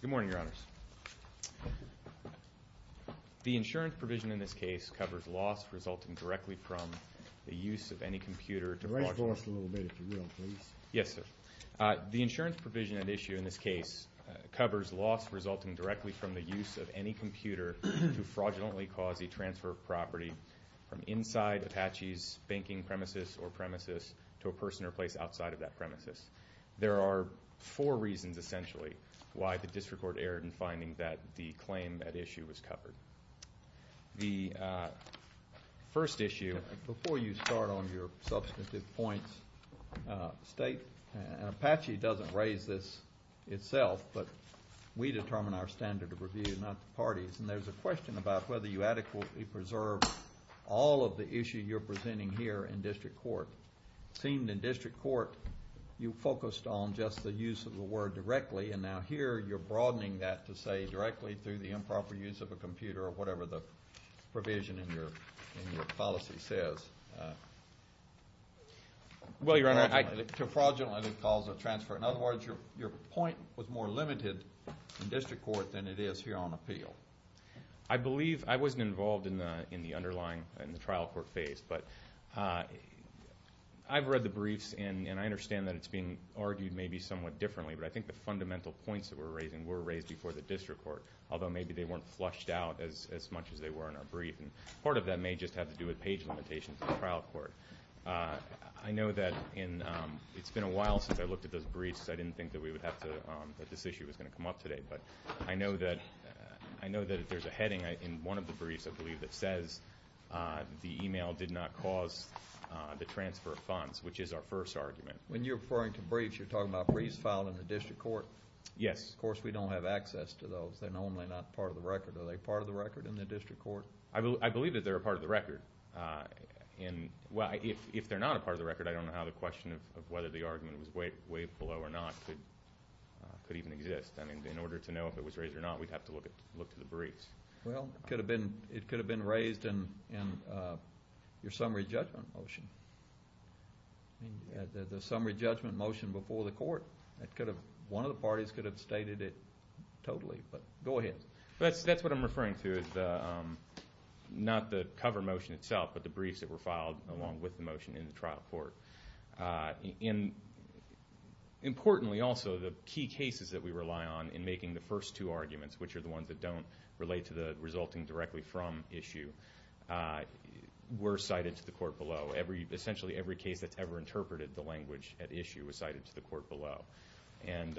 Good morning, Your Honors. The insurance provision in this case covers loss resulting directly from the use of any computer to fraudulently cause a transfer of property from inside Apache's banking premises or premises to a person or place outside of that premises. There are four reasons, essentially, why the district court erred in finding that the claim at issue was covered. The first issue, before you start on your substantive points, state, and Apache doesn't raise this itself, but we determine our standard of review, not the parties. And there's a question about whether you adequately preserve all of the issue you're presenting here in district court. It seemed in district court you focused on just the use of the word directly and now here you're broadening that to say directly through the improper use of a computer or whatever the provision in your policy says. Well, Your Honor, I... To fraudulently cause a transfer. In other words, your point was more limited in district court than it is here on appeal. I believe, I wasn't involved in the underlying, in the trial court phase, but I've read the briefs and I understand that it's being argued maybe somewhat differently, but I think the fundamental points that we're raising were raised before the district court, although maybe they weren't flushed out as much as they were in our brief. And part of that may just have to do with page limitations in the trial court. I know that in, it's been a while since I looked at those briefs, so I didn't think that we would have to, that this issue was going to come up today, but I know that, I know that there's a heading in one of the briefs, I believe, that says the email did not cause the transfer of funds, which is our first argument. When you're referring to briefs, you're talking about briefs filed in the district court. Yes. Of course, we don't have access to those. They're normally not part of the record. Are they part of the record in the district court? I believe that they're a part of the record. And, well, if they're not a part of the record, I don't know how the question of whether the argument was weighed below or not could even exist. I mean, in order to know if it was raised or not, we'd have to look at the briefs. Well, it could have been raised in your summary judgment motion. The summary judgment motion before the court, one of the parties could have stated it totally, but go ahead. That's what I'm referring to, not the cover motion itself, but the briefs that were filed along with the motion in the trial court. Importantly, also, the key cases that we rely on in making the first two arguments, which are the ones that don't relate to the resulting directly from issue, were cited to the court below. Essentially, every case that's ever interpreted the language at issue was cited to the court below. And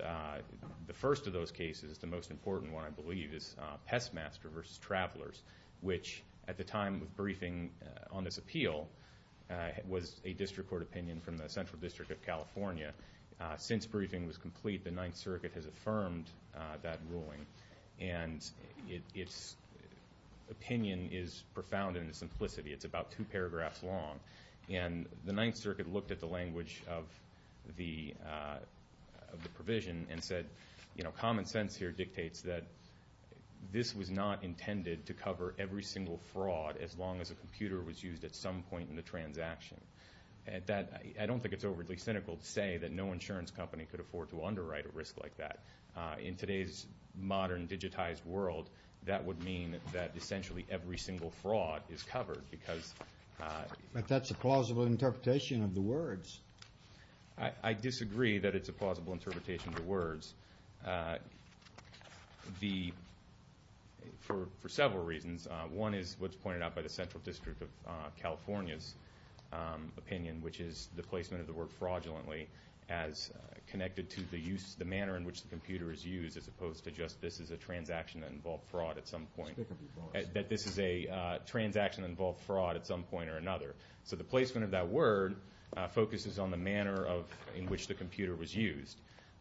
the first of those cases, the most important one, I believe, is Pestmaster v. Travelers, which at the time of briefing on this appeal was a district court opinion from the Central District of California. Since briefing was complete, the Ninth Circuit has affirmed that ruling, and its opinion is profound in its simplicity. It's about two paragraphs long. And the Ninth Circuit looked at the language of the provision and said, you know, common sense here dictates that this was not at some point in the transaction. I don't think it's overly cynical to say that no insurance company could afford to underwrite a risk like that. In today's modern digitized world, that would mean that essentially every single fraud is covered, because... But that's a plausible interpretation of the words. I disagree that it's a plausible interpretation of the words. For several reasons. One is what's pointed out by the Central District of California's opinion, which is the placement of the word fraudulently as connected to the use, the manner in which the computer is used, as opposed to just this is a transaction that involved fraud at some point. That this is a transaction that involved fraud at some point or another. So the placement of that word focuses on the manner in which the computer was used.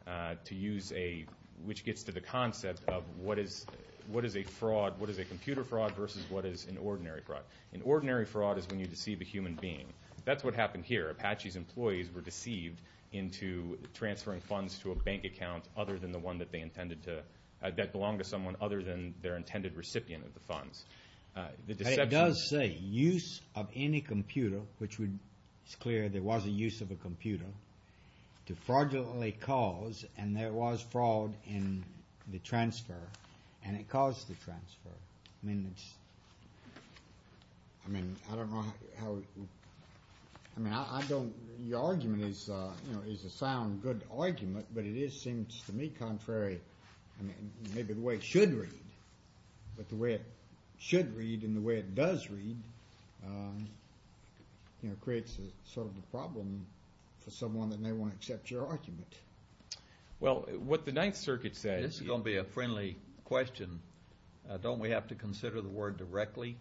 To use a, which gets to the concept of what is, what is a fraud, what is a computer fraud versus what is an ordinary fraud. An ordinary fraud is when you deceive a human being. That's what happened here. Apache's employees were deceived into transferring funds to a bank account other than the one that they intended to, that belonged to someone other than their intended recipient of the funds. The deception... It does say use of any computer, which would, it's clear there was a use of a computer, to fraudulently cause, and there was fraud in the transfer, and it caused the transfer. I mean, it's, I mean, I don't know how, I mean, I don't, your argument is, you know, is a sound, good argument, but it is, seems to me, contrary, I mean, maybe the way it should read, but the way it should read and the way it does read, you know, creates a sort of a problem for someone that may want to accept your argument. Well, what the Ninth Circuit says... This is going to be a friendly question. Don't we have to consider the word directly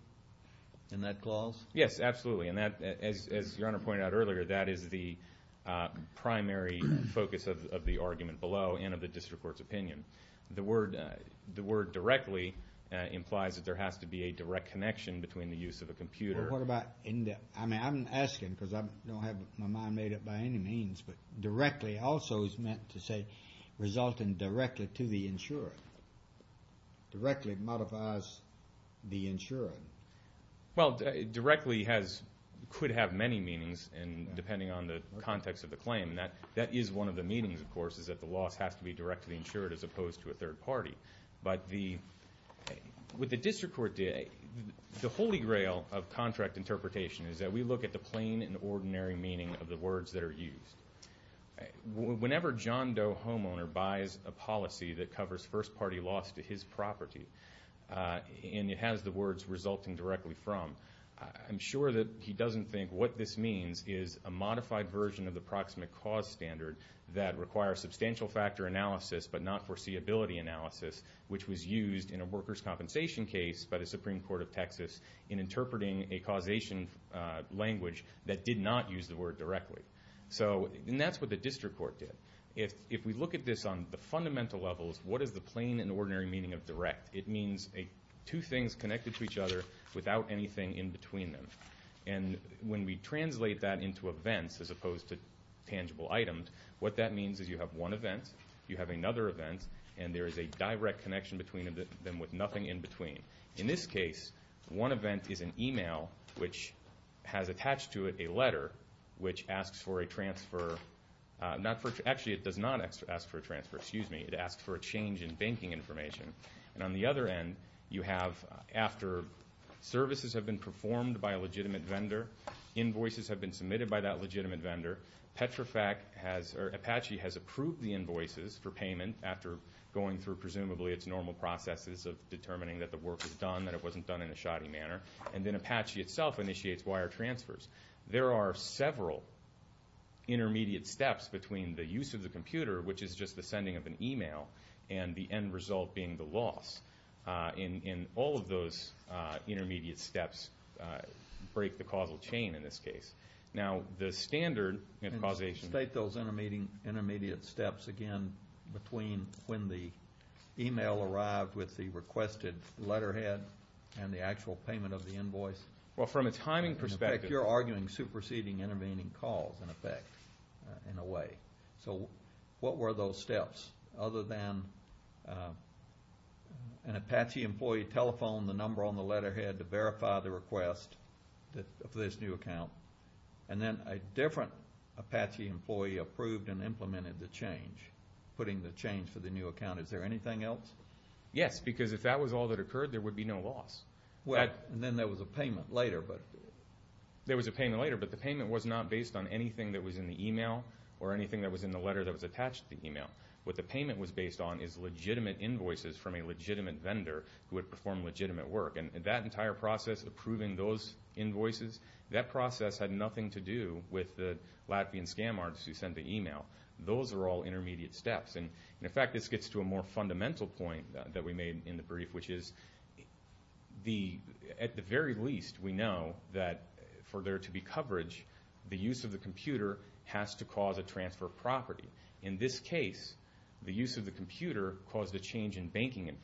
in that clause? Yes, absolutely, and that, as, as Your Honor pointed out earlier, that is the primary focus of, of the argument below and of the district court's opinion. The word, the word directly implies that there has to be a direct connection between the use of a computer... What about in the, I mean, I'm asking because I don't have my mind made up by any means, but directly also is meant to say, resulting directly to the insurer. Directly modifies the insurer. Well, directly has, could have many meanings, and depending on the context of the claim, that, that is one of the meanings, of course, is that the loss has to be directly insured as opposed to a third party. But the, what the district court did, the holy grail of contract interpretation is that we look at the plain and ordinary meaning of the words that are used. Whenever John Doe, homeowner, buys a policy that covers first party loss to his property, and it has the words resulting directly from, I'm sure that he doesn't think what this means is a modified version of the proximate cause standard that requires substantial factor analysis but not foreseeability analysis, which was used in a workers' compensation case by the Supreme Court of Texas in interpreting a causation language that did not use the word directly. So, and that's what the district court did. If, if we look at this on the fundamental levels, what is the plain and ordinary meaning of direct? It means two things connected to each other without anything in between them. And when we translate that into events as you have one event, you have another event, and there is a direct connection between them with nothing in between. In this case, one event is an email which has attached to it a letter which asks for a transfer, not for, actually it does not ask for a transfer, excuse me, it asks for a change in banking information. And on the other end, you have after services have been performed by a legitimate vendor, invoices have been submitted by that legitimate vendor, Petrofac has, or Apache has approved the invoices for payment after going through presumably its normal processes of determining that the work is done, that it wasn't done in a shoddy manner, and then Apache itself initiates wire transfers. There are several intermediate steps between the use of the computer, which is just the sending of an email, and the end result being the loss. In, in all of those intermediate steps break the causal chain in this case. Now, the standard, you know, causation. State those intermediate steps again between when the email arrived with the requested letterhead and the actual payment of the invoice. Well, from a timing perspective. In effect, you're arguing superseding intervening calls, in effect, in a way. So what were those steps other than an Apache employee telephoned the number on the letterhead to verify the for this new account, and then a different Apache employee approved and implemented the change, putting the change for the new account. Is there anything else? Yes, because if that was all that occurred, there would be no loss. Well, and then there was a payment later, but. There was a payment later, but the payment was not based on anything that was in the email or anything that was in the letter that was attached to the email. What the payment was based on is legitimate invoices from a legitimate vendor who had performed legitimate work. And that entire process, approving those invoices, that process had nothing to do with the Latvian scam artists who sent the email. Those are all intermediate steps. And, in fact, this gets to a more fundamental point that we made in the brief, which is at the very least, we know that for there to be coverage, the use of the computer has to cause a transfer of property. In this case, the use of the computer caused a change in the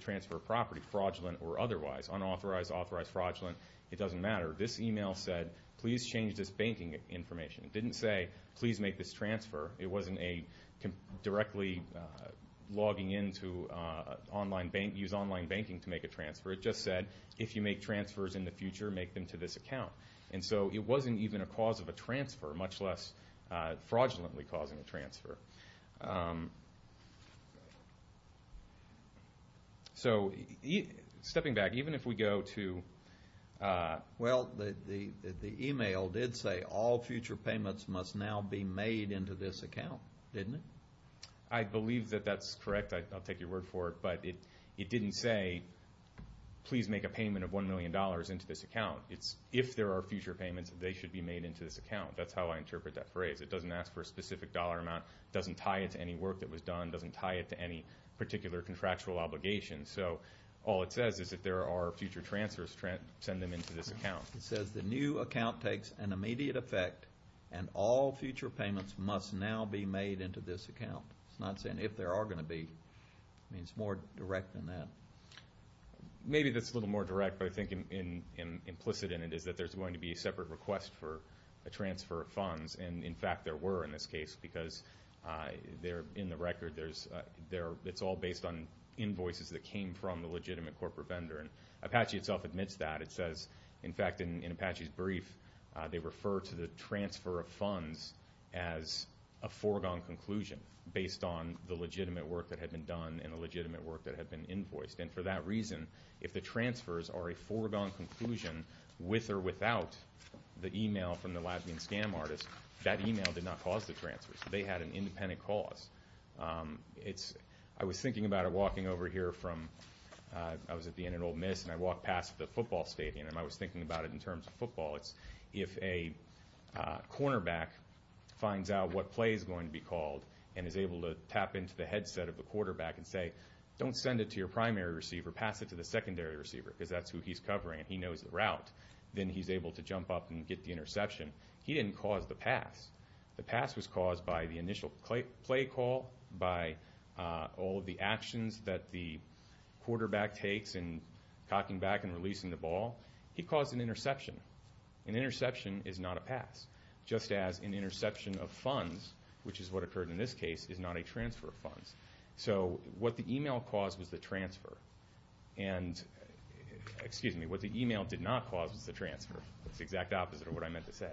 transfer of property, fraudulent or otherwise. Unauthorized, authorized, fraudulent, it doesn't matter. This email said, please change this banking information. It didn't say, please make this transfer. It wasn't a directly logging in to online bank, use online banking to make a transfer. It just said, if you make transfers in the future, make them to this account. And so it wasn't even a cause of a transfer, much less fraudulently causing a transfer. So, stepping back, even if we go to... Well, the email did say, all future payments must now be made into this account, didn't it? I believe that that's correct. I'll take your word for it. But it didn't say, please make a payment of $1 million into this account. It's, if there are future payments, they should be made into this account. That's how I interpret that phrase. It doesn't ask for a specific dollar amount. It doesn't tie it to any work that was done. It doesn't tie it to any particular contractual obligation. So, all it says is, if there are future transfers, send them into this account. It says, the new account takes an immediate effect, and all future payments must now be made into this account. It's not saying, if there are going to be. I mean, it's more direct than that. Maybe that's a little more direct, but I think implicit in it is that there's going to be a separate request for a transfer of funds. And, in fact, there were in this case, because they're in the record. It's all based on invoices that came from the legitimate corporate vendor. Apache itself admits that. It says, in fact, in Apache's brief, they refer to the transfer of funds as a foregone conclusion, based on the legitimate work that had been done and the legitimate work that had been invoiced. And, for that reason, if the transfers are a foregone conclusion, with or without the email from the lab-mean scam artist, that is an independent cause. I was thinking about it walking over here from, I was at the end of Old Miss, and I walked past the football stadium, and I was thinking about it in terms of football. It's if a cornerback finds out what play is going to be called and is able to tap into the headset of the quarterback and say, don't send it to your primary receiver, pass it to the secondary receiver, because that's who he's covering, and he knows the route, then he's able to jump up and get the interception. He didn't cause the pass. The pass was caused by the initial play call, by all of the actions that the quarterback takes in cocking back and releasing the ball. He caused an interception. An interception is not a pass, just as an interception of funds, which is what occurred in this case, is not a transfer of funds. So what the email caused was the transfer. And, excuse me, what the email did not cause was the transfer. It's the exact opposite of what I meant to say.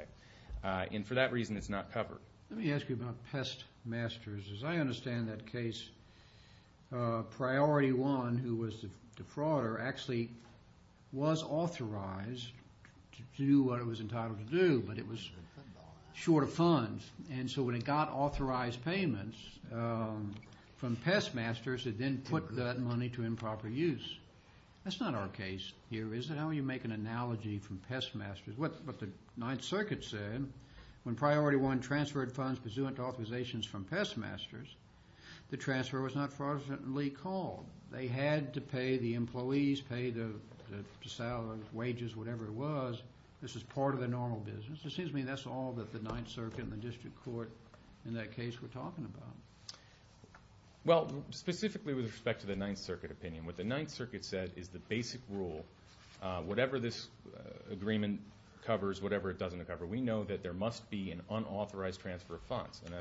And for that reason, it's not covered. Let me ask you about Pestmasters. As I understand that case, Priority One, who was the frauder, actually was authorized to do what it was entitled to do, but it was short of funds. And so when it got authorized payments from Pestmasters, it then put that money to improper use. That's not our case here, is it? How will you make an analogy from Pestmasters? What the Ninth Circuit said, when Priority One transferred funds pursuant to authorizations from Pestmasters, the transfer was not fraudulently called. They had to pay the employees, pay the salaries, wages, whatever it was. This is part of the normal business. It seems to me that's all that the Ninth Circuit and the district court in that case were talking about. Well, specifically with respect to the Ninth Circuit opinion, what the Ninth Circuit said is the basic rule, whatever this agreement covers, whatever it doesn't cover, we know that there must be an unauthorized transfer of funds. And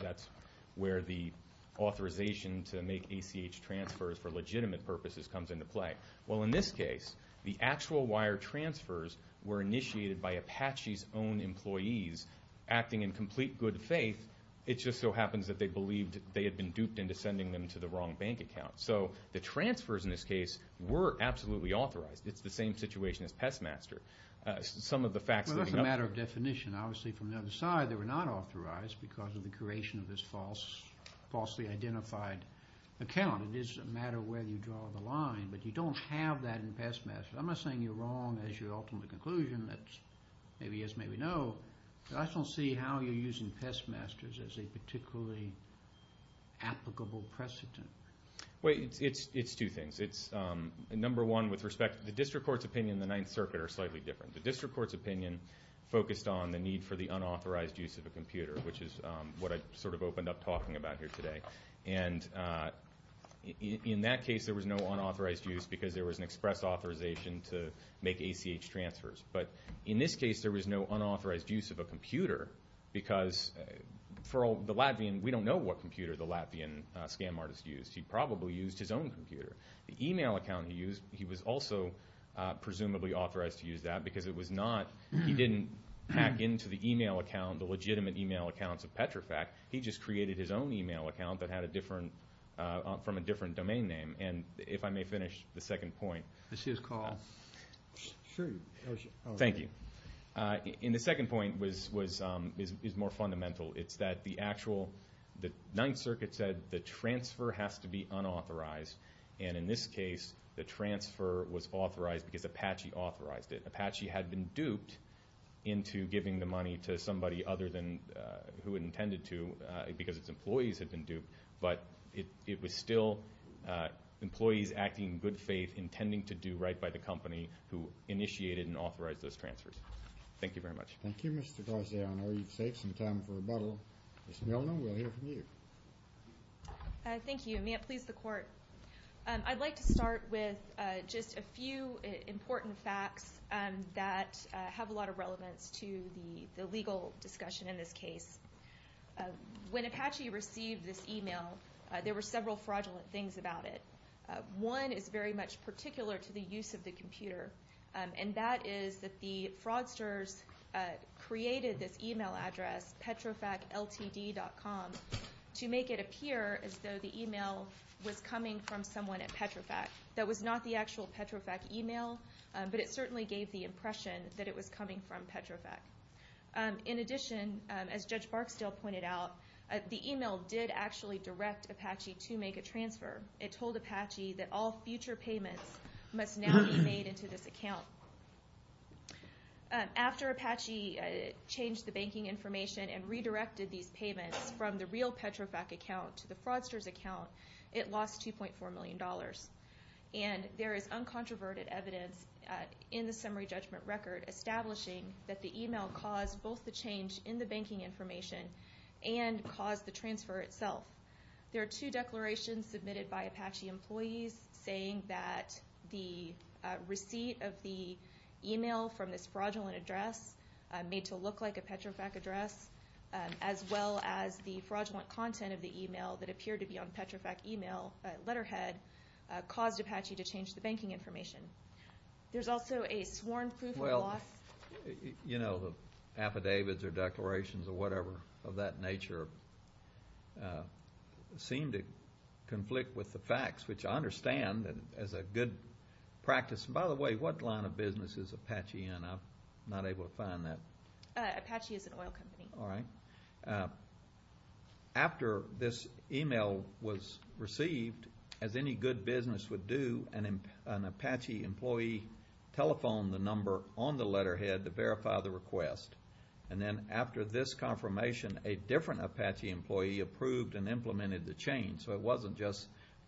that's where the authorization to make ACH transfers for legitimate purposes comes into play. Well, in this case, the actual wire transfers were initiated by Apache's own employees, acting in complete good faith. It just so happens that they believed they had been duped into sending them to the wrong bank account. So the transfers in this case were absolutely authorized. It's the same situation as Pestmasters. Some of the facts leading up to it. Well, that's a matter of definition. Obviously, from the other side, they were not authorized because of the creation of this falsely identified account. It is a matter of where you draw the line, but you don't have that in Pestmasters. I'm not saying you're wrong as your ultimate conclusion. That's maybe yes, maybe no. So I don't see how you're using Pestmasters as a particularly applicable precedent. Well, it's two things. Number one, with respect to the district court's opinion, the Ninth Circuit are slightly different. The district court's opinion focused on the need for the unauthorized use of a computer, which is what I sort of opened up talking about here today. And in that case, there was no unauthorized use because there was an express authorization to make ACH transfers. But in this case, there was no unauthorized use of a computer because for the Latvian, we don't know what computer the Latvian scam artist used. He probably used his own computer. The e-mail account he used, he was also presumably authorized to use that because it was not, he didn't hack into the e-mail account, the legitimate e-mail accounts of Petrofac. He just created his own e-mail account that had a different, from a different domain name. And if I may finish the second point. This is Carl. Sure. Thank you. And the second point is more fundamental. It's that the actual, the Ninth Circuit said the transfer has to be unauthorized. And in this case, the transfer was authorized because Apache authorized it. Apache had been duped into giving the money to somebody other than who it intended to because its employees had been duped. But it was still employees acting in good faith intending to do right by the company who initiated and authorized those transfers. Thank you very much. Thank you, Mr. Garza. I know you've saved some time for rebuttal. Ms. Milner, we'll hear from you. Thank you. May it please the Court. I'd like to start with just a few important facts that have a lot of relevance to the legal discussion in this case. When Apache received this email, there were several fraudulent things about it. One is very much particular to the use of the computer, and that is that the fraudsters created this email address, petrofacltd.com, to make it appear as though the email was coming from someone at Petrofac. That was not the actual Petrofac email, but it certainly gave the impression that it was coming from Petrofac. In addition, as Judge Barksdale pointed out, the email did actually direct Apache to make a transfer. It told Apache that all future payments must now be made into this account. After Apache changed the banking information and redirected these payments from the real Petrofac account to the fraudsters' account, it lost $2.4 million. And there is uncontroverted evidence in the summary judgment record establishing that the email caused both the change in the banking information and caused the transfer itself. There are two declarations submitted by Apache employees saying that the receipt of the email from this fraudulent address made to look like a Petrofac address, as well as the fraudulent content of the email that appeared to be on Petrofac email letterhead, caused Apache to change the banking information. There's also a sworn proof of loss. Well, you know, the affidavits or declarations or whatever of that nature seem to conflict with the facts, which I understand as a good practice. And by the way, what line of business is Apache in? I'm not able to find that. Apache is an oil company. All right. After this email was received, as any good business would do, an Apache employee telephoned the number on the letterhead to verify the request. And then after this confirmation, a different Apache employee approved and implemented the change. So it wasn't just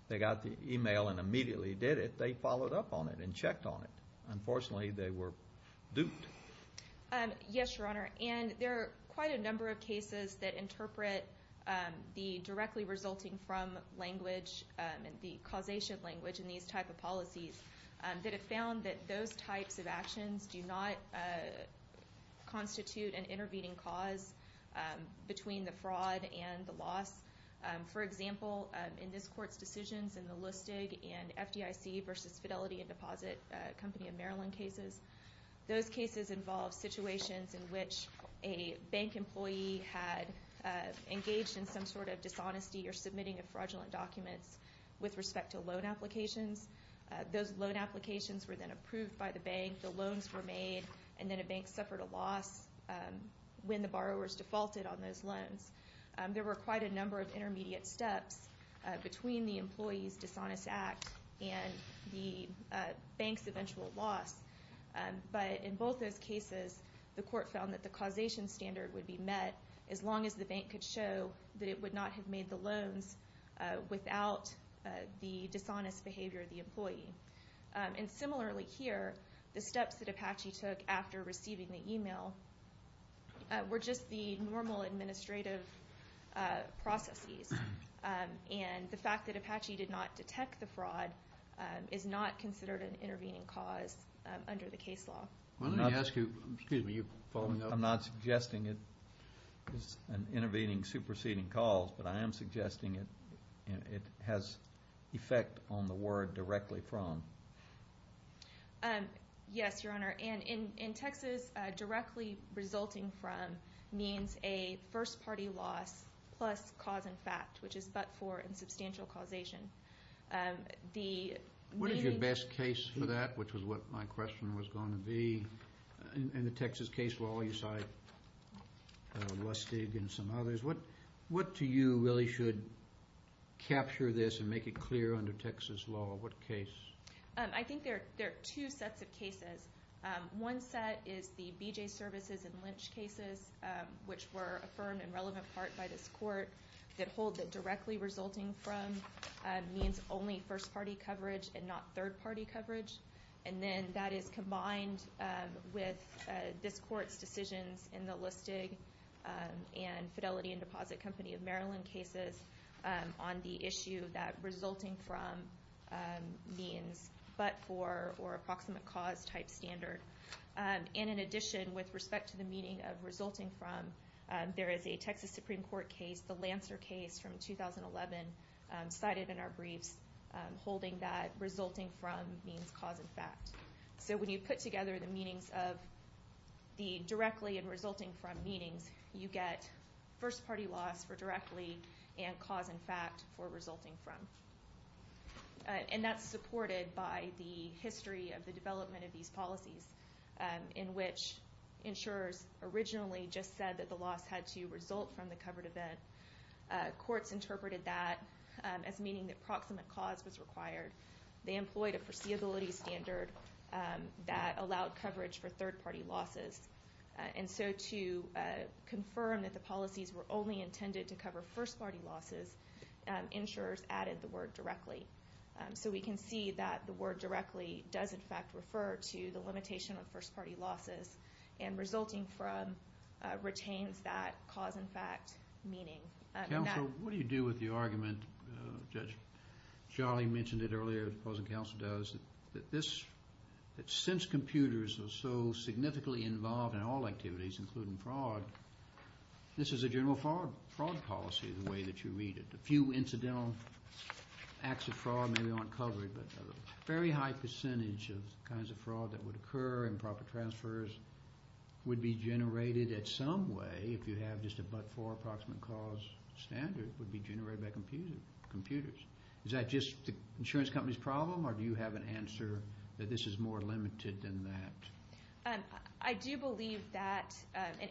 they got the email and immediately did it. They followed up on it and checked on it. Unfortunately, they were duped. Yes, Your Honor. And there are quite a number of cases that interpret the directly resulting from language and the causation language in these type of policies that have found that those types of actions do not constitute an intervening cause between the fraud and the loss. For example, in this Court's decisions in the Lustig and FDIC versus Fidelity and Deposit Company of Maryland cases, those cases involve situations in which a bank employee had engaged in some sort of dishonesty or submitting a fraudulent document with respect to loan applications. Those loan applications were then approved by the bank, the loans were made, and then a bank suffered a loss when the borrowers defaulted on those loans. There were quite a number of intermediate steps between the employee's dishonest act and the bank's eventual loss. But in both those cases, the Court found that the causation standard would be met as long as the bank could show that it would not have made the loans without the dishonest behavior of the employee. And similarly here, the steps that Apache took after receiving the email were just the normal administrative processes. And the fact that Apache did not detect the fraud is not considered an intervening cause under the case law. Why don't I ask you, excuse me, you following up? I'm not suggesting it is an intervening, superseding cause, but I am suggesting it has effect on the word directly from. Yes, Your Honor. And in Texas, directly resulting from means a first-party loss plus cause and fact, which is but for and substantial causation. What is your best case for that, which is what my question was going to be? In the Texas case law, you cite Lustig and some others. What to you really should capture this and make it clear under Texas law? What case? I think there are two sets of cases. One set is the BJ Services and Lynch cases, which were affirmed in relevant part by this court, that hold that directly resulting from means only first-party coverage and not third-party coverage. And then that is combined with this court's decisions in the Lustig and Fidelity and Deposit Company of Maryland cases on the issue that resulting from means but for or approximate cause type standard. And in addition, with respect to the meaning of resulting from, there is a Texas Supreme Court case, the Lancer case from 2011, cited in our briefs holding that resulting from means cause and fact. So when you put together the meanings of the directly and resulting from meanings, you get first-party loss for directly and cause and fact for resulting from. And that's supported by the history of the development of these policies, in which insurers originally just said that the loss had to result from the covered event. Courts interpreted that as meaning that proximate cause was required. They employed a foreseeability standard that allowed coverage for third-party losses. And so to confirm that the policies were only intended to cover first-party losses, insurers added the word directly. So we can see that the word directly does, in fact, refer to the limitation of first-party losses and resulting from retains that cause and fact meaning. Counsel, what do you do with the argument, Judge? Charlie mentioned it earlier, the opposing counsel does, that since computers are so significantly involved in all activities, including fraud, this is a general fraud policy the way that you read it. A few incidental acts of fraud maybe aren't covered, but a very high percentage of the kinds of fraud that would occur, improper transfers, would be generated at some way if you have just a but-for approximate cause standard, would be generated by computers. Is that just the insurance company's problem, or do you have an answer that this is more limited than that? I do believe that,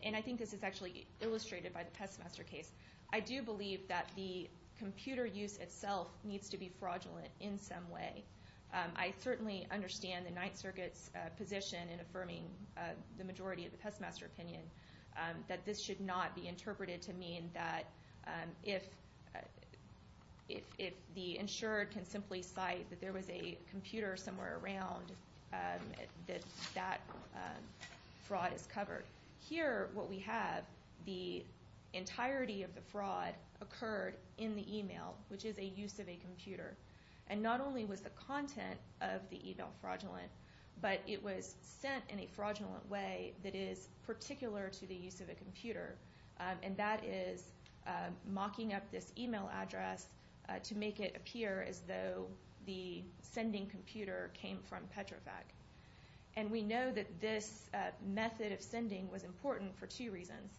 and I think this is actually illustrated by the Pestmaster case, I do believe that the computer use itself needs to be fraudulent in some way. I certainly understand the Ninth Circuit's position in affirming the majority of the Pestmaster opinion that this should not be interpreted to mean that if the insured can simply cite that there was a computer somewhere around, that that fraud is covered. Here what we have, the entirety of the fraud occurred in the email, which is a use of a computer. And not only was the content of the email fraudulent, but it was sent in a fraudulent way that is particular to the use of a computer, and that is mocking up this email address to make it appear as though the sending computer came from Petrofac. And we know that this method of sending was important for two reasons.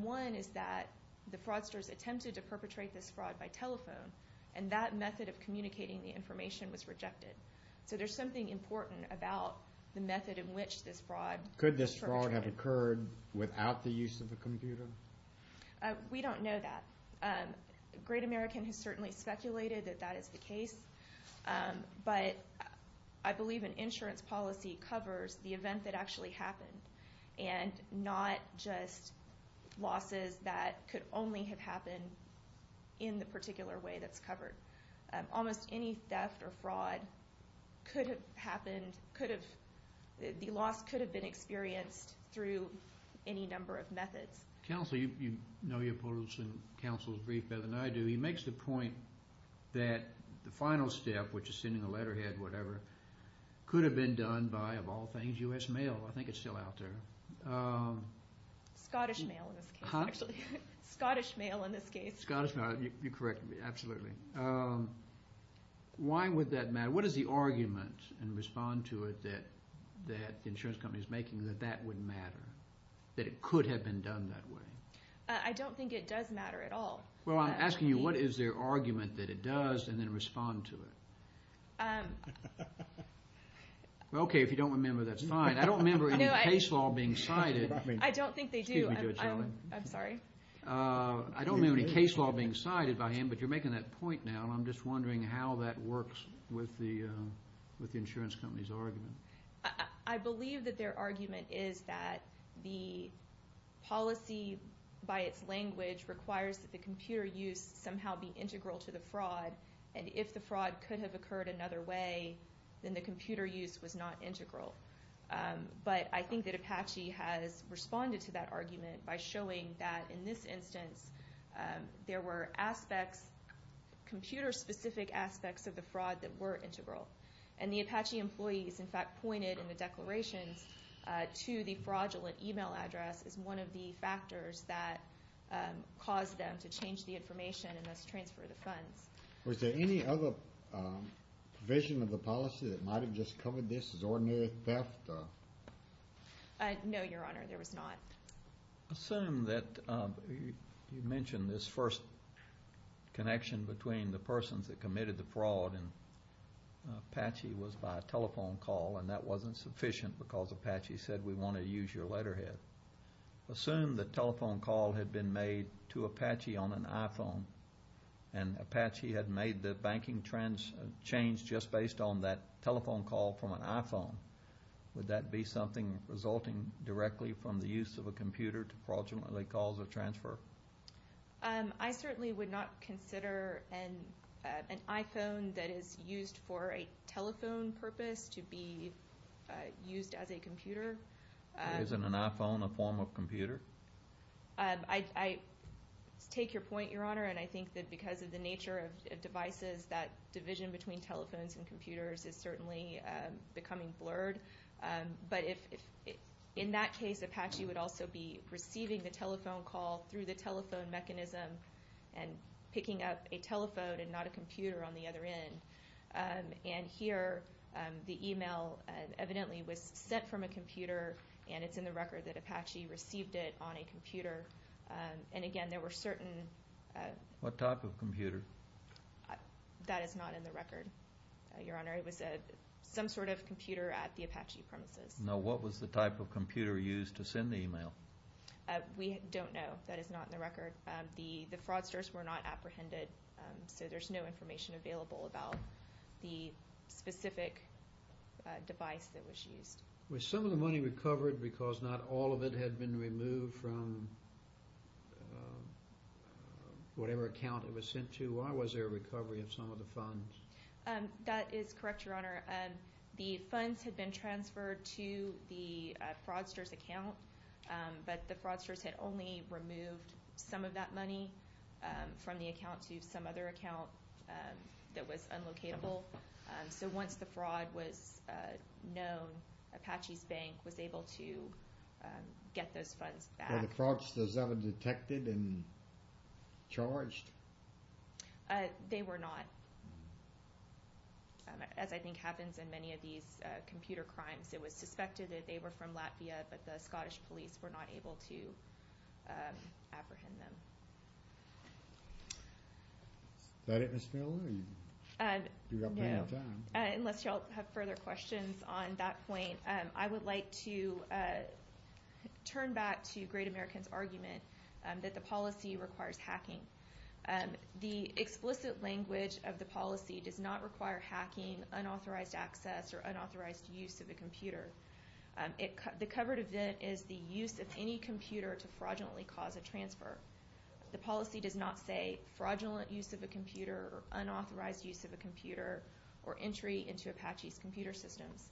One is that the fraudsters attempted to perpetrate this fraud by telephone, and that method of communicating the information was rejected. So there's something important about the method in which this fraud was perpetrated. Could this fraud have occurred without the use of a computer? We don't know that. Great American has certainly speculated that that is the case, but I believe an insurance policy covers the event that actually happened, and not just losses that could only have happened in the particular way that's covered. Almost any theft or fraud could have happened, could have, the loss could have been experienced through any number of methods. Counsel, you know your opponents in counsel's brief better than I do. He makes the point that the final step, which is sending a letterhead, whatever, could have been done by, of all things, U.S. mail. I think it's still out there. Scottish mail in this case, actually. Scottish mail in this case. Scottish mail. You're correct. Absolutely. Why would that matter? What is the argument, and respond to it, that the insurance company is making, that that would matter, that it could have been done that way? I don't think it does matter at all. Well, I'm asking you what is their argument that it does, and then respond to it. Okay, if you don't remember, that's fine. I don't remember any case law being cited. I don't think they do. I'm sorry. I don't remember any case law being cited by him, but you're making that point now, and I'm just wondering how that works with the insurance company's argument. I believe that their argument is that the policy, by its language, requires that the computer use somehow be integral to the fraud, and if the fraud could have occurred another way, then the computer use was not integral. But I think that Apache has responded to that argument by showing that, in this instance, there were aspects, computer-specific aspects, of the fraud that were integral. And the Apache employees, in fact, pointed in the declarations to the fraudulent email address as one of the factors that caused them to change the information and thus transfer the funds. Was there any other provision of the policy that might have just covered this as ordinary theft? No, Your Honor, there was not. Assume that you mentioned this first connection between the persons that committed the fraud, and Apache was by a telephone call, and that wasn't sufficient because Apache said, we want to use your letterhead. Assume the telephone call had been made to Apache on an iPhone, and Apache had made the banking change just based on that telephone call from an iPhone. Would that be something resulting directly from the use of a computer to fraudulently cause a transfer? I certainly would not consider an iPhone that is used for a telephone purpose to be used as a computer. Isn't an iPhone a form of computer? I take your point, Your Honor, and I think that because of the nature of devices, that division between telephones and computers is certainly becoming blurred. But in that case, Apache would also be receiving the telephone call through the telephone mechanism and picking up a telephone and not a computer on the other end. And here, the email evidently was sent from a computer, and it's in the record that Apache received it on a computer. And again, there were certain – What type of computer? That is not in the record, Your Honor. It was some sort of computer at the Apache premises. Now, what was the type of computer used to send the email? We don't know. That is not in the record. The fraudsters were not apprehended, so there's no information available about the specific device that was used. Was some of the money recovered because not all of it had been removed from whatever account it was sent to? Or was there a recovery of some of the funds? That is correct, Your Honor. The funds had been transferred to the fraudsters' account, but the fraudsters had only removed some of that money from the account to some other account that was unlocatable. So once the fraud was known, Apache's bank was able to get those funds back. Were the fraudsters ever detected and charged? They were not. As I think happens in many of these computer crimes, it was suspected that they were from Latvia, but the Scottish police were not able to apprehend them. Is that it, Ms. Miller? Unless you all have further questions on that point, I would like to turn back to Great American's argument that the policy requires hacking. The explicit language of the policy does not require hacking, unauthorized access, or unauthorized use of a computer. The covered event is the use of any computer to fraudulently cause a transfer. The policy does not say fraudulent use of a computer, unauthorized use of a computer, or entry into Apache's computer systems.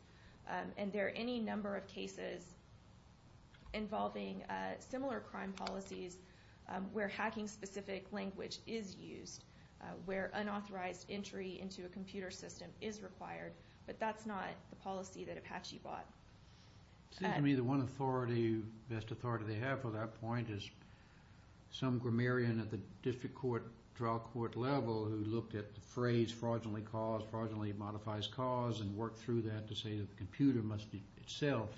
And there are any number of cases involving similar crime policies where hacking-specific language is used, where unauthorized entry into a computer system is required, but that's not the policy that Apache bought. It seems to me the one authority, best authority they have for that point, is some grammarian at the district trial court level who looked at the phrase, fraudulently cause, fraudulently modifies cause, and worked through that to say that the computer must be itself,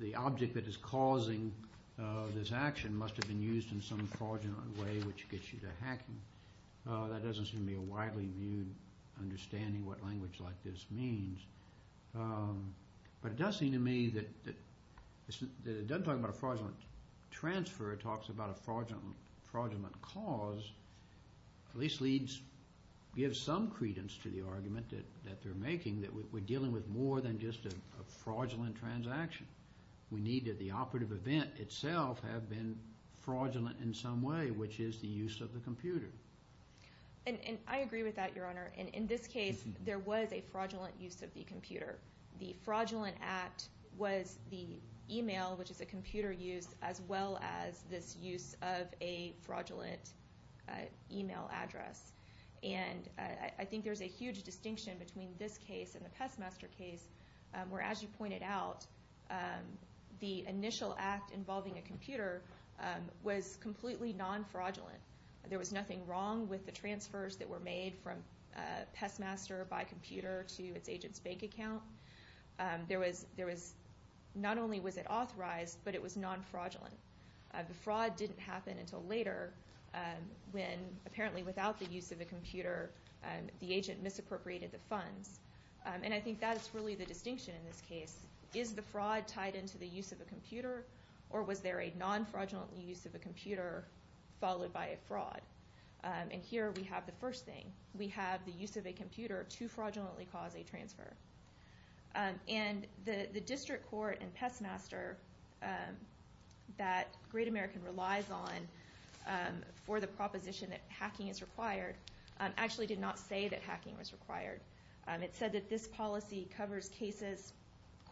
the object that is causing this action must have been used in some fraudulent way, which gets you to hacking. That doesn't seem to me a widely viewed understanding what language like this means. But it does seem to me that it doesn't talk about a fraudulent transfer, it talks about a fraudulent cause, at least gives some credence to the argument that they're making, that we're dealing with more than just a fraudulent transaction. We need the operative event itself have been fraudulent in some way, which is the use of the computer. And I agree with that, Your Honor. In this case, there was a fraudulent use of the computer. The fraudulent act was the email, which is a computer use, as well as this use of a fraudulent email address. And I think there's a huge distinction between this case and the Pestmaster case, where, as you pointed out, the initial act involving a computer was completely non-fraudulent. There was nothing wrong with the transfers that were made from Pestmaster by computer to its agent's bank account. Not only was it authorized, but it was non-fraudulent. The fraud didn't happen until later, when apparently without the use of the computer, the agent misappropriated the funds. And I think that is really the distinction in this case. Is the fraud tied into the use of a computer, or was there a non-fraudulent use of a computer followed by a fraud? And here we have the first thing. We have the use of a computer to fraudulently cause a transfer. And the district court in Pestmaster that Great American relies on for the proposition that hacking is required actually did not say that hacking was required. It said that this policy covers cases,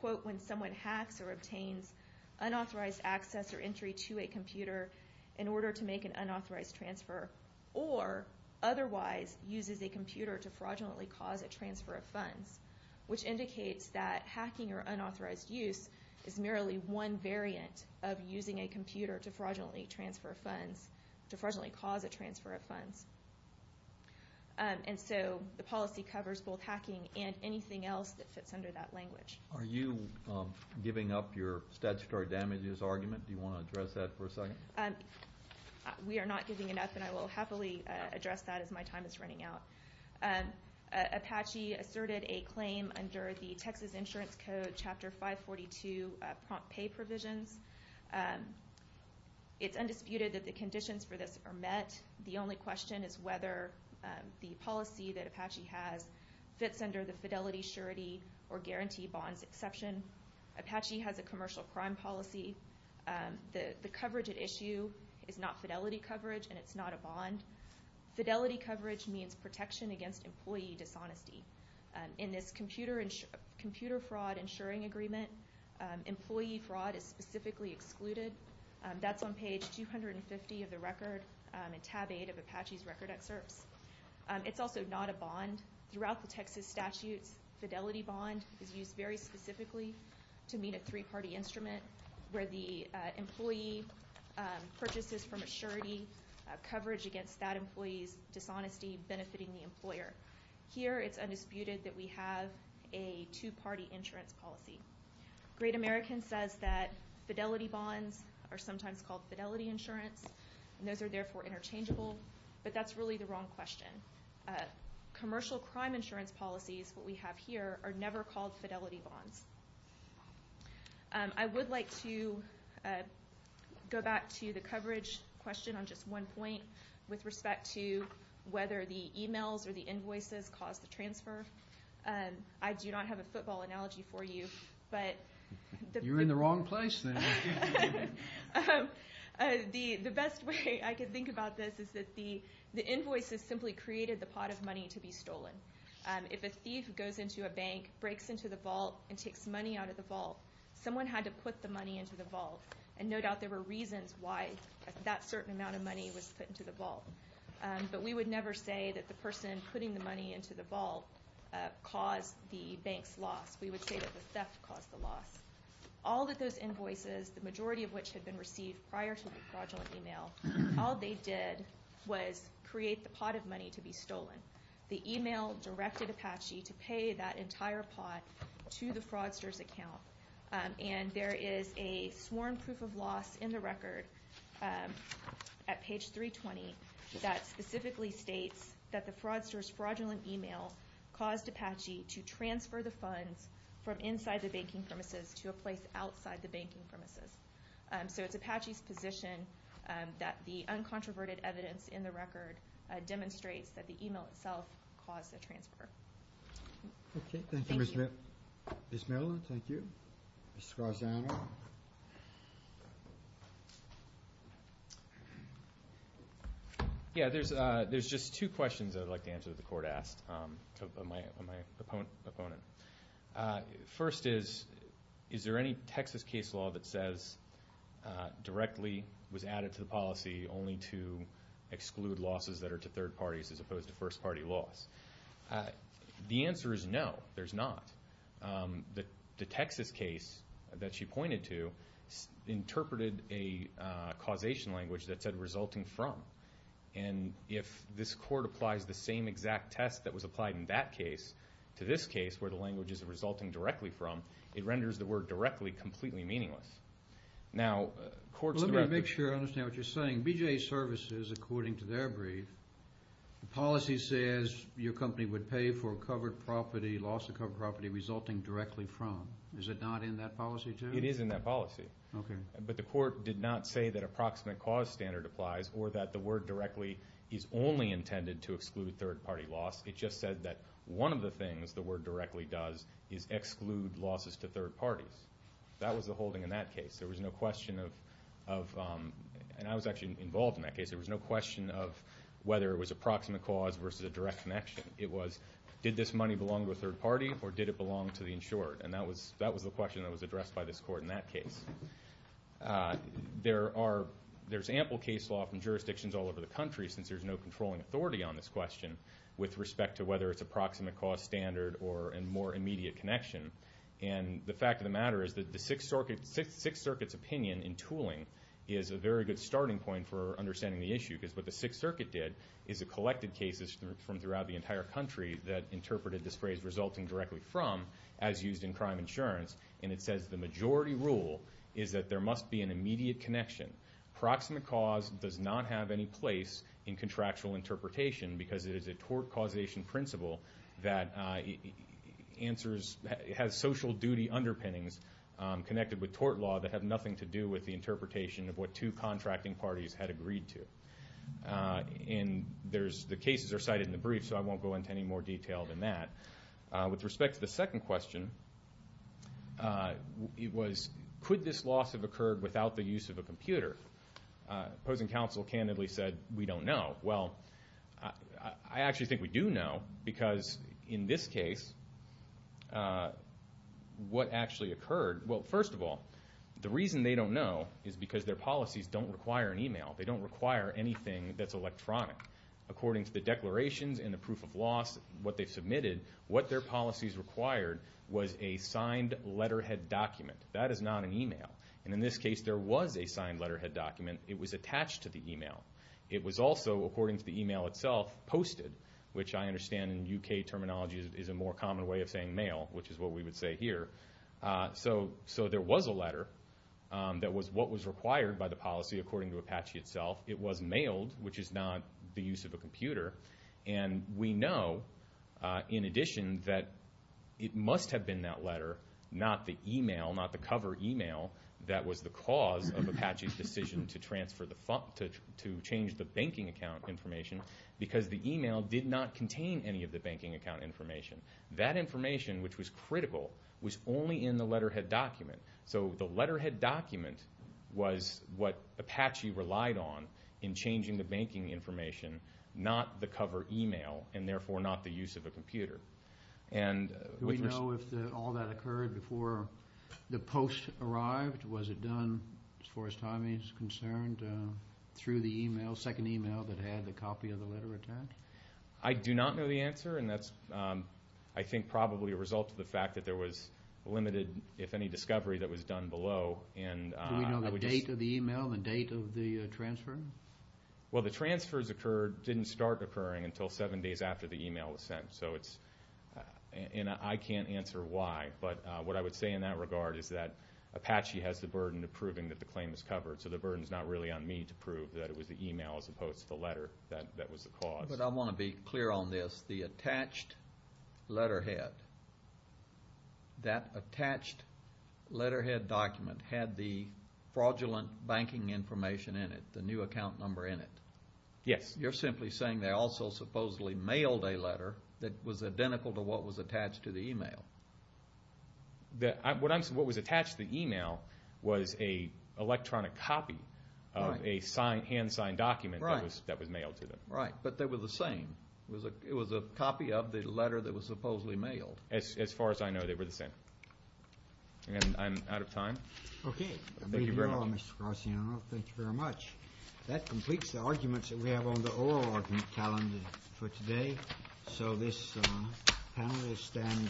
quote, when someone hacks or obtains unauthorized access or entry to a computer in order to make an unauthorized transfer, or otherwise uses a computer to fraudulently cause a transfer of funds, which indicates that hacking or unauthorized use is merely one variant of using a computer to fraudulently cause a transfer of funds. And so the policy covers both hacking and anything else that fits under that language. Are you giving up your statutory damages argument? Do you want to address that for a second? We are not giving it up, and I will happily address that as my time is running out. Apache asserted a claim under the Texas Insurance Code, Chapter 542, prompt pay provisions. It's undisputed that the conditions for this are met. The only question is whether the policy that Apache has fits under the fidelity, surety, or guarantee bonds exception. Apache has a commercial crime policy. The coverage at issue is not fidelity coverage, and it's not a bond. Fidelity coverage means protection against employee dishonesty. In this computer fraud insuring agreement, employee fraud is specifically excluded. That's on page 250 of the record in tab 8 of Apache's record excerpts. It's also not a bond. Throughout the Texas statutes, fidelity bond is used very specifically to meet a three-party instrument where the employee purchases from a surety coverage against that employee's dishonesty, benefiting the employer. Here it's undisputed that we have a two-party insurance policy. Great American says that fidelity bonds are sometimes called fidelity insurance, and those are therefore interchangeable, but that's really the wrong question. Commercial crime insurance policies, what we have here, are never called fidelity bonds. I would like to go back to the coverage question on just one point with respect to whether the e-mails or the invoices cause the transfer. I do not have a football analogy for you. You're in the wrong place then. The best way I can think about this is that the invoices simply created the pot of money to be stolen. If a thief goes into a bank, breaks into the vault, and takes money out of the vault, someone had to put the money into the vault, and no doubt there were reasons why that certain amount of money was put into the vault. But we would never say that the person putting the money into the vault caused the bank's loss. We would say that the theft caused the loss. All of those invoices, the majority of which had been received prior to the fraudulent e-mail, all they did was create the pot of money to be stolen. The e-mail directed Apache to pay that entire pot to the fraudster's account, and there is a sworn proof of loss in the record at page 320 that specifically states that the fraudster's fraudulent e-mail caused Apache to transfer the funds from inside the banking premises to a place outside the banking premises. So it's Apache's position that the uncontroverted evidence in the record demonstrates that the e-mail itself caused the transfer. Okay, thank you, Ms. Merlin. Ms. Merlin, thank you. Mr. Garzano. Yeah, there's just two questions I'd like to answer that the Court asked of my opponent. First is, is there any Texas case law that says directly was added to the policy only to exclude losses that are to third parties as opposed to first party loss? The answer is no, there's not. The Texas case that she pointed to interpreted a causation language that said resulting from, and if this Court applies the same exact test that was applied in that case to this case where the language is resulting directly from, it renders the word directly completely meaningless. Now, courts in the record. Let me make sure I understand what you're saying. BJA services, according to their brief, the policy says your company would pay for covered property, loss of covered property resulting directly from. Is it not in that policy, too? It is in that policy. Okay. But the Court did not say that approximate cause standard applies or that the word directly is only intended to exclude third party loss. It just said that one of the things the word directly does is exclude losses to third parties. That was the holding in that case. There was no question of, and I was actually involved in that case, there was no question of whether it was approximate cause versus a direct connection. It was did this money belong to a third party or did it belong to the insured, and that was the question that was addressed by this Court in that case. There's ample case law from jurisdictions all over the country since there's no controlling authority on this question with respect to whether it's approximate cause standard or a more immediate connection, and the fact of the matter is that the Sixth Circuit's opinion in tooling is a very good starting point for understanding the issue because what the Sixth Circuit did is it collected cases from throughout the entire country that interpreted this phrase resulting directly from as used in crime insurance, and it says the majority rule is that there must be an immediate connection. Approximate cause does not have any place in contractual interpretation because it is a tort causation principle that answers, has social duty underpinnings connected with tort law that have nothing to do with the interpretation of what two contracting parties had agreed to. And the cases are cited in the brief, so I won't go into any more detail than that. With respect to the second question, it was could this loss have occurred without the use of a computer? Opposing counsel candidly said we don't know. Well, I actually think we do know because in this case what actually occurred, well, first of all, the reason they don't know is because their policies don't require an e-mail. They don't require anything that's electronic. According to the declarations and the proof of loss, what they submitted, what their policies required was a signed letterhead document. That is not an e-mail, and in this case there was a signed letterhead document. It was attached to the e-mail. It was also, according to the e-mail itself, posted, which I understand in U.K. terminology is a more common way of saying mail, which is what we would say here. So there was a letter that was what was required by the policy, according to Apache itself. It was mailed, which is not the use of a computer. And we know, in addition, that it must have been that letter, not the e-mail, not the cover e-mail, that was the cause of Apache's decision to change the banking account information because the e-mail did not contain any of the banking account information. That information, which was critical, was only in the letterhead document. So the letterhead document was what Apache relied on in changing the banking information, not the cover e-mail, and therefore not the use of a computer. Do we know if all that occurred before the post arrived? Was it done, as far as timing is concerned, through the e-mail, second e-mail that had the copy of the letter attached? I do not know the answer, and that's, I think, probably a result of the fact that there was limited, if any, discovery that was done below. Do we know the date of the e-mail, the date of the transfer? Well, the transfers didn't start occurring until seven days after the e-mail was sent, and I can't answer why. But what I would say in that regard is that Apache has the burden of proving that the claim was covered, so the burden is not really on me to prove that it was the e-mail as opposed to the letter that was the cause. But I want to be clear on this. The attached letterhead, that attached letterhead document, had the fraudulent banking information in it, the new account number in it. Yes. You're simply saying they also supposedly mailed a letter that was identical to what was attached to the e-mail. What was attached to the e-mail was an electronic copy of a hand-signed document that was mailed to them. Right. But they were the same. It was a copy of the letter that was supposedly mailed. As far as I know, they were the same. I'm out of time. Thank you very much. Thank you, Mr. Graziano. Thank you very much. That completes the arguments that we have on the oral argument calendar for today. So this panel will stand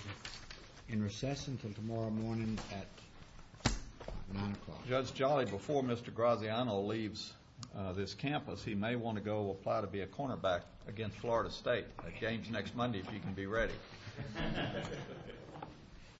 in recess until tomorrow morning at 9 o'clock. Judge Jolly, before Mr. Graziano leaves this campus, he may want to go apply to be a cornerback against Florida State. That game is next Monday, if you can be ready.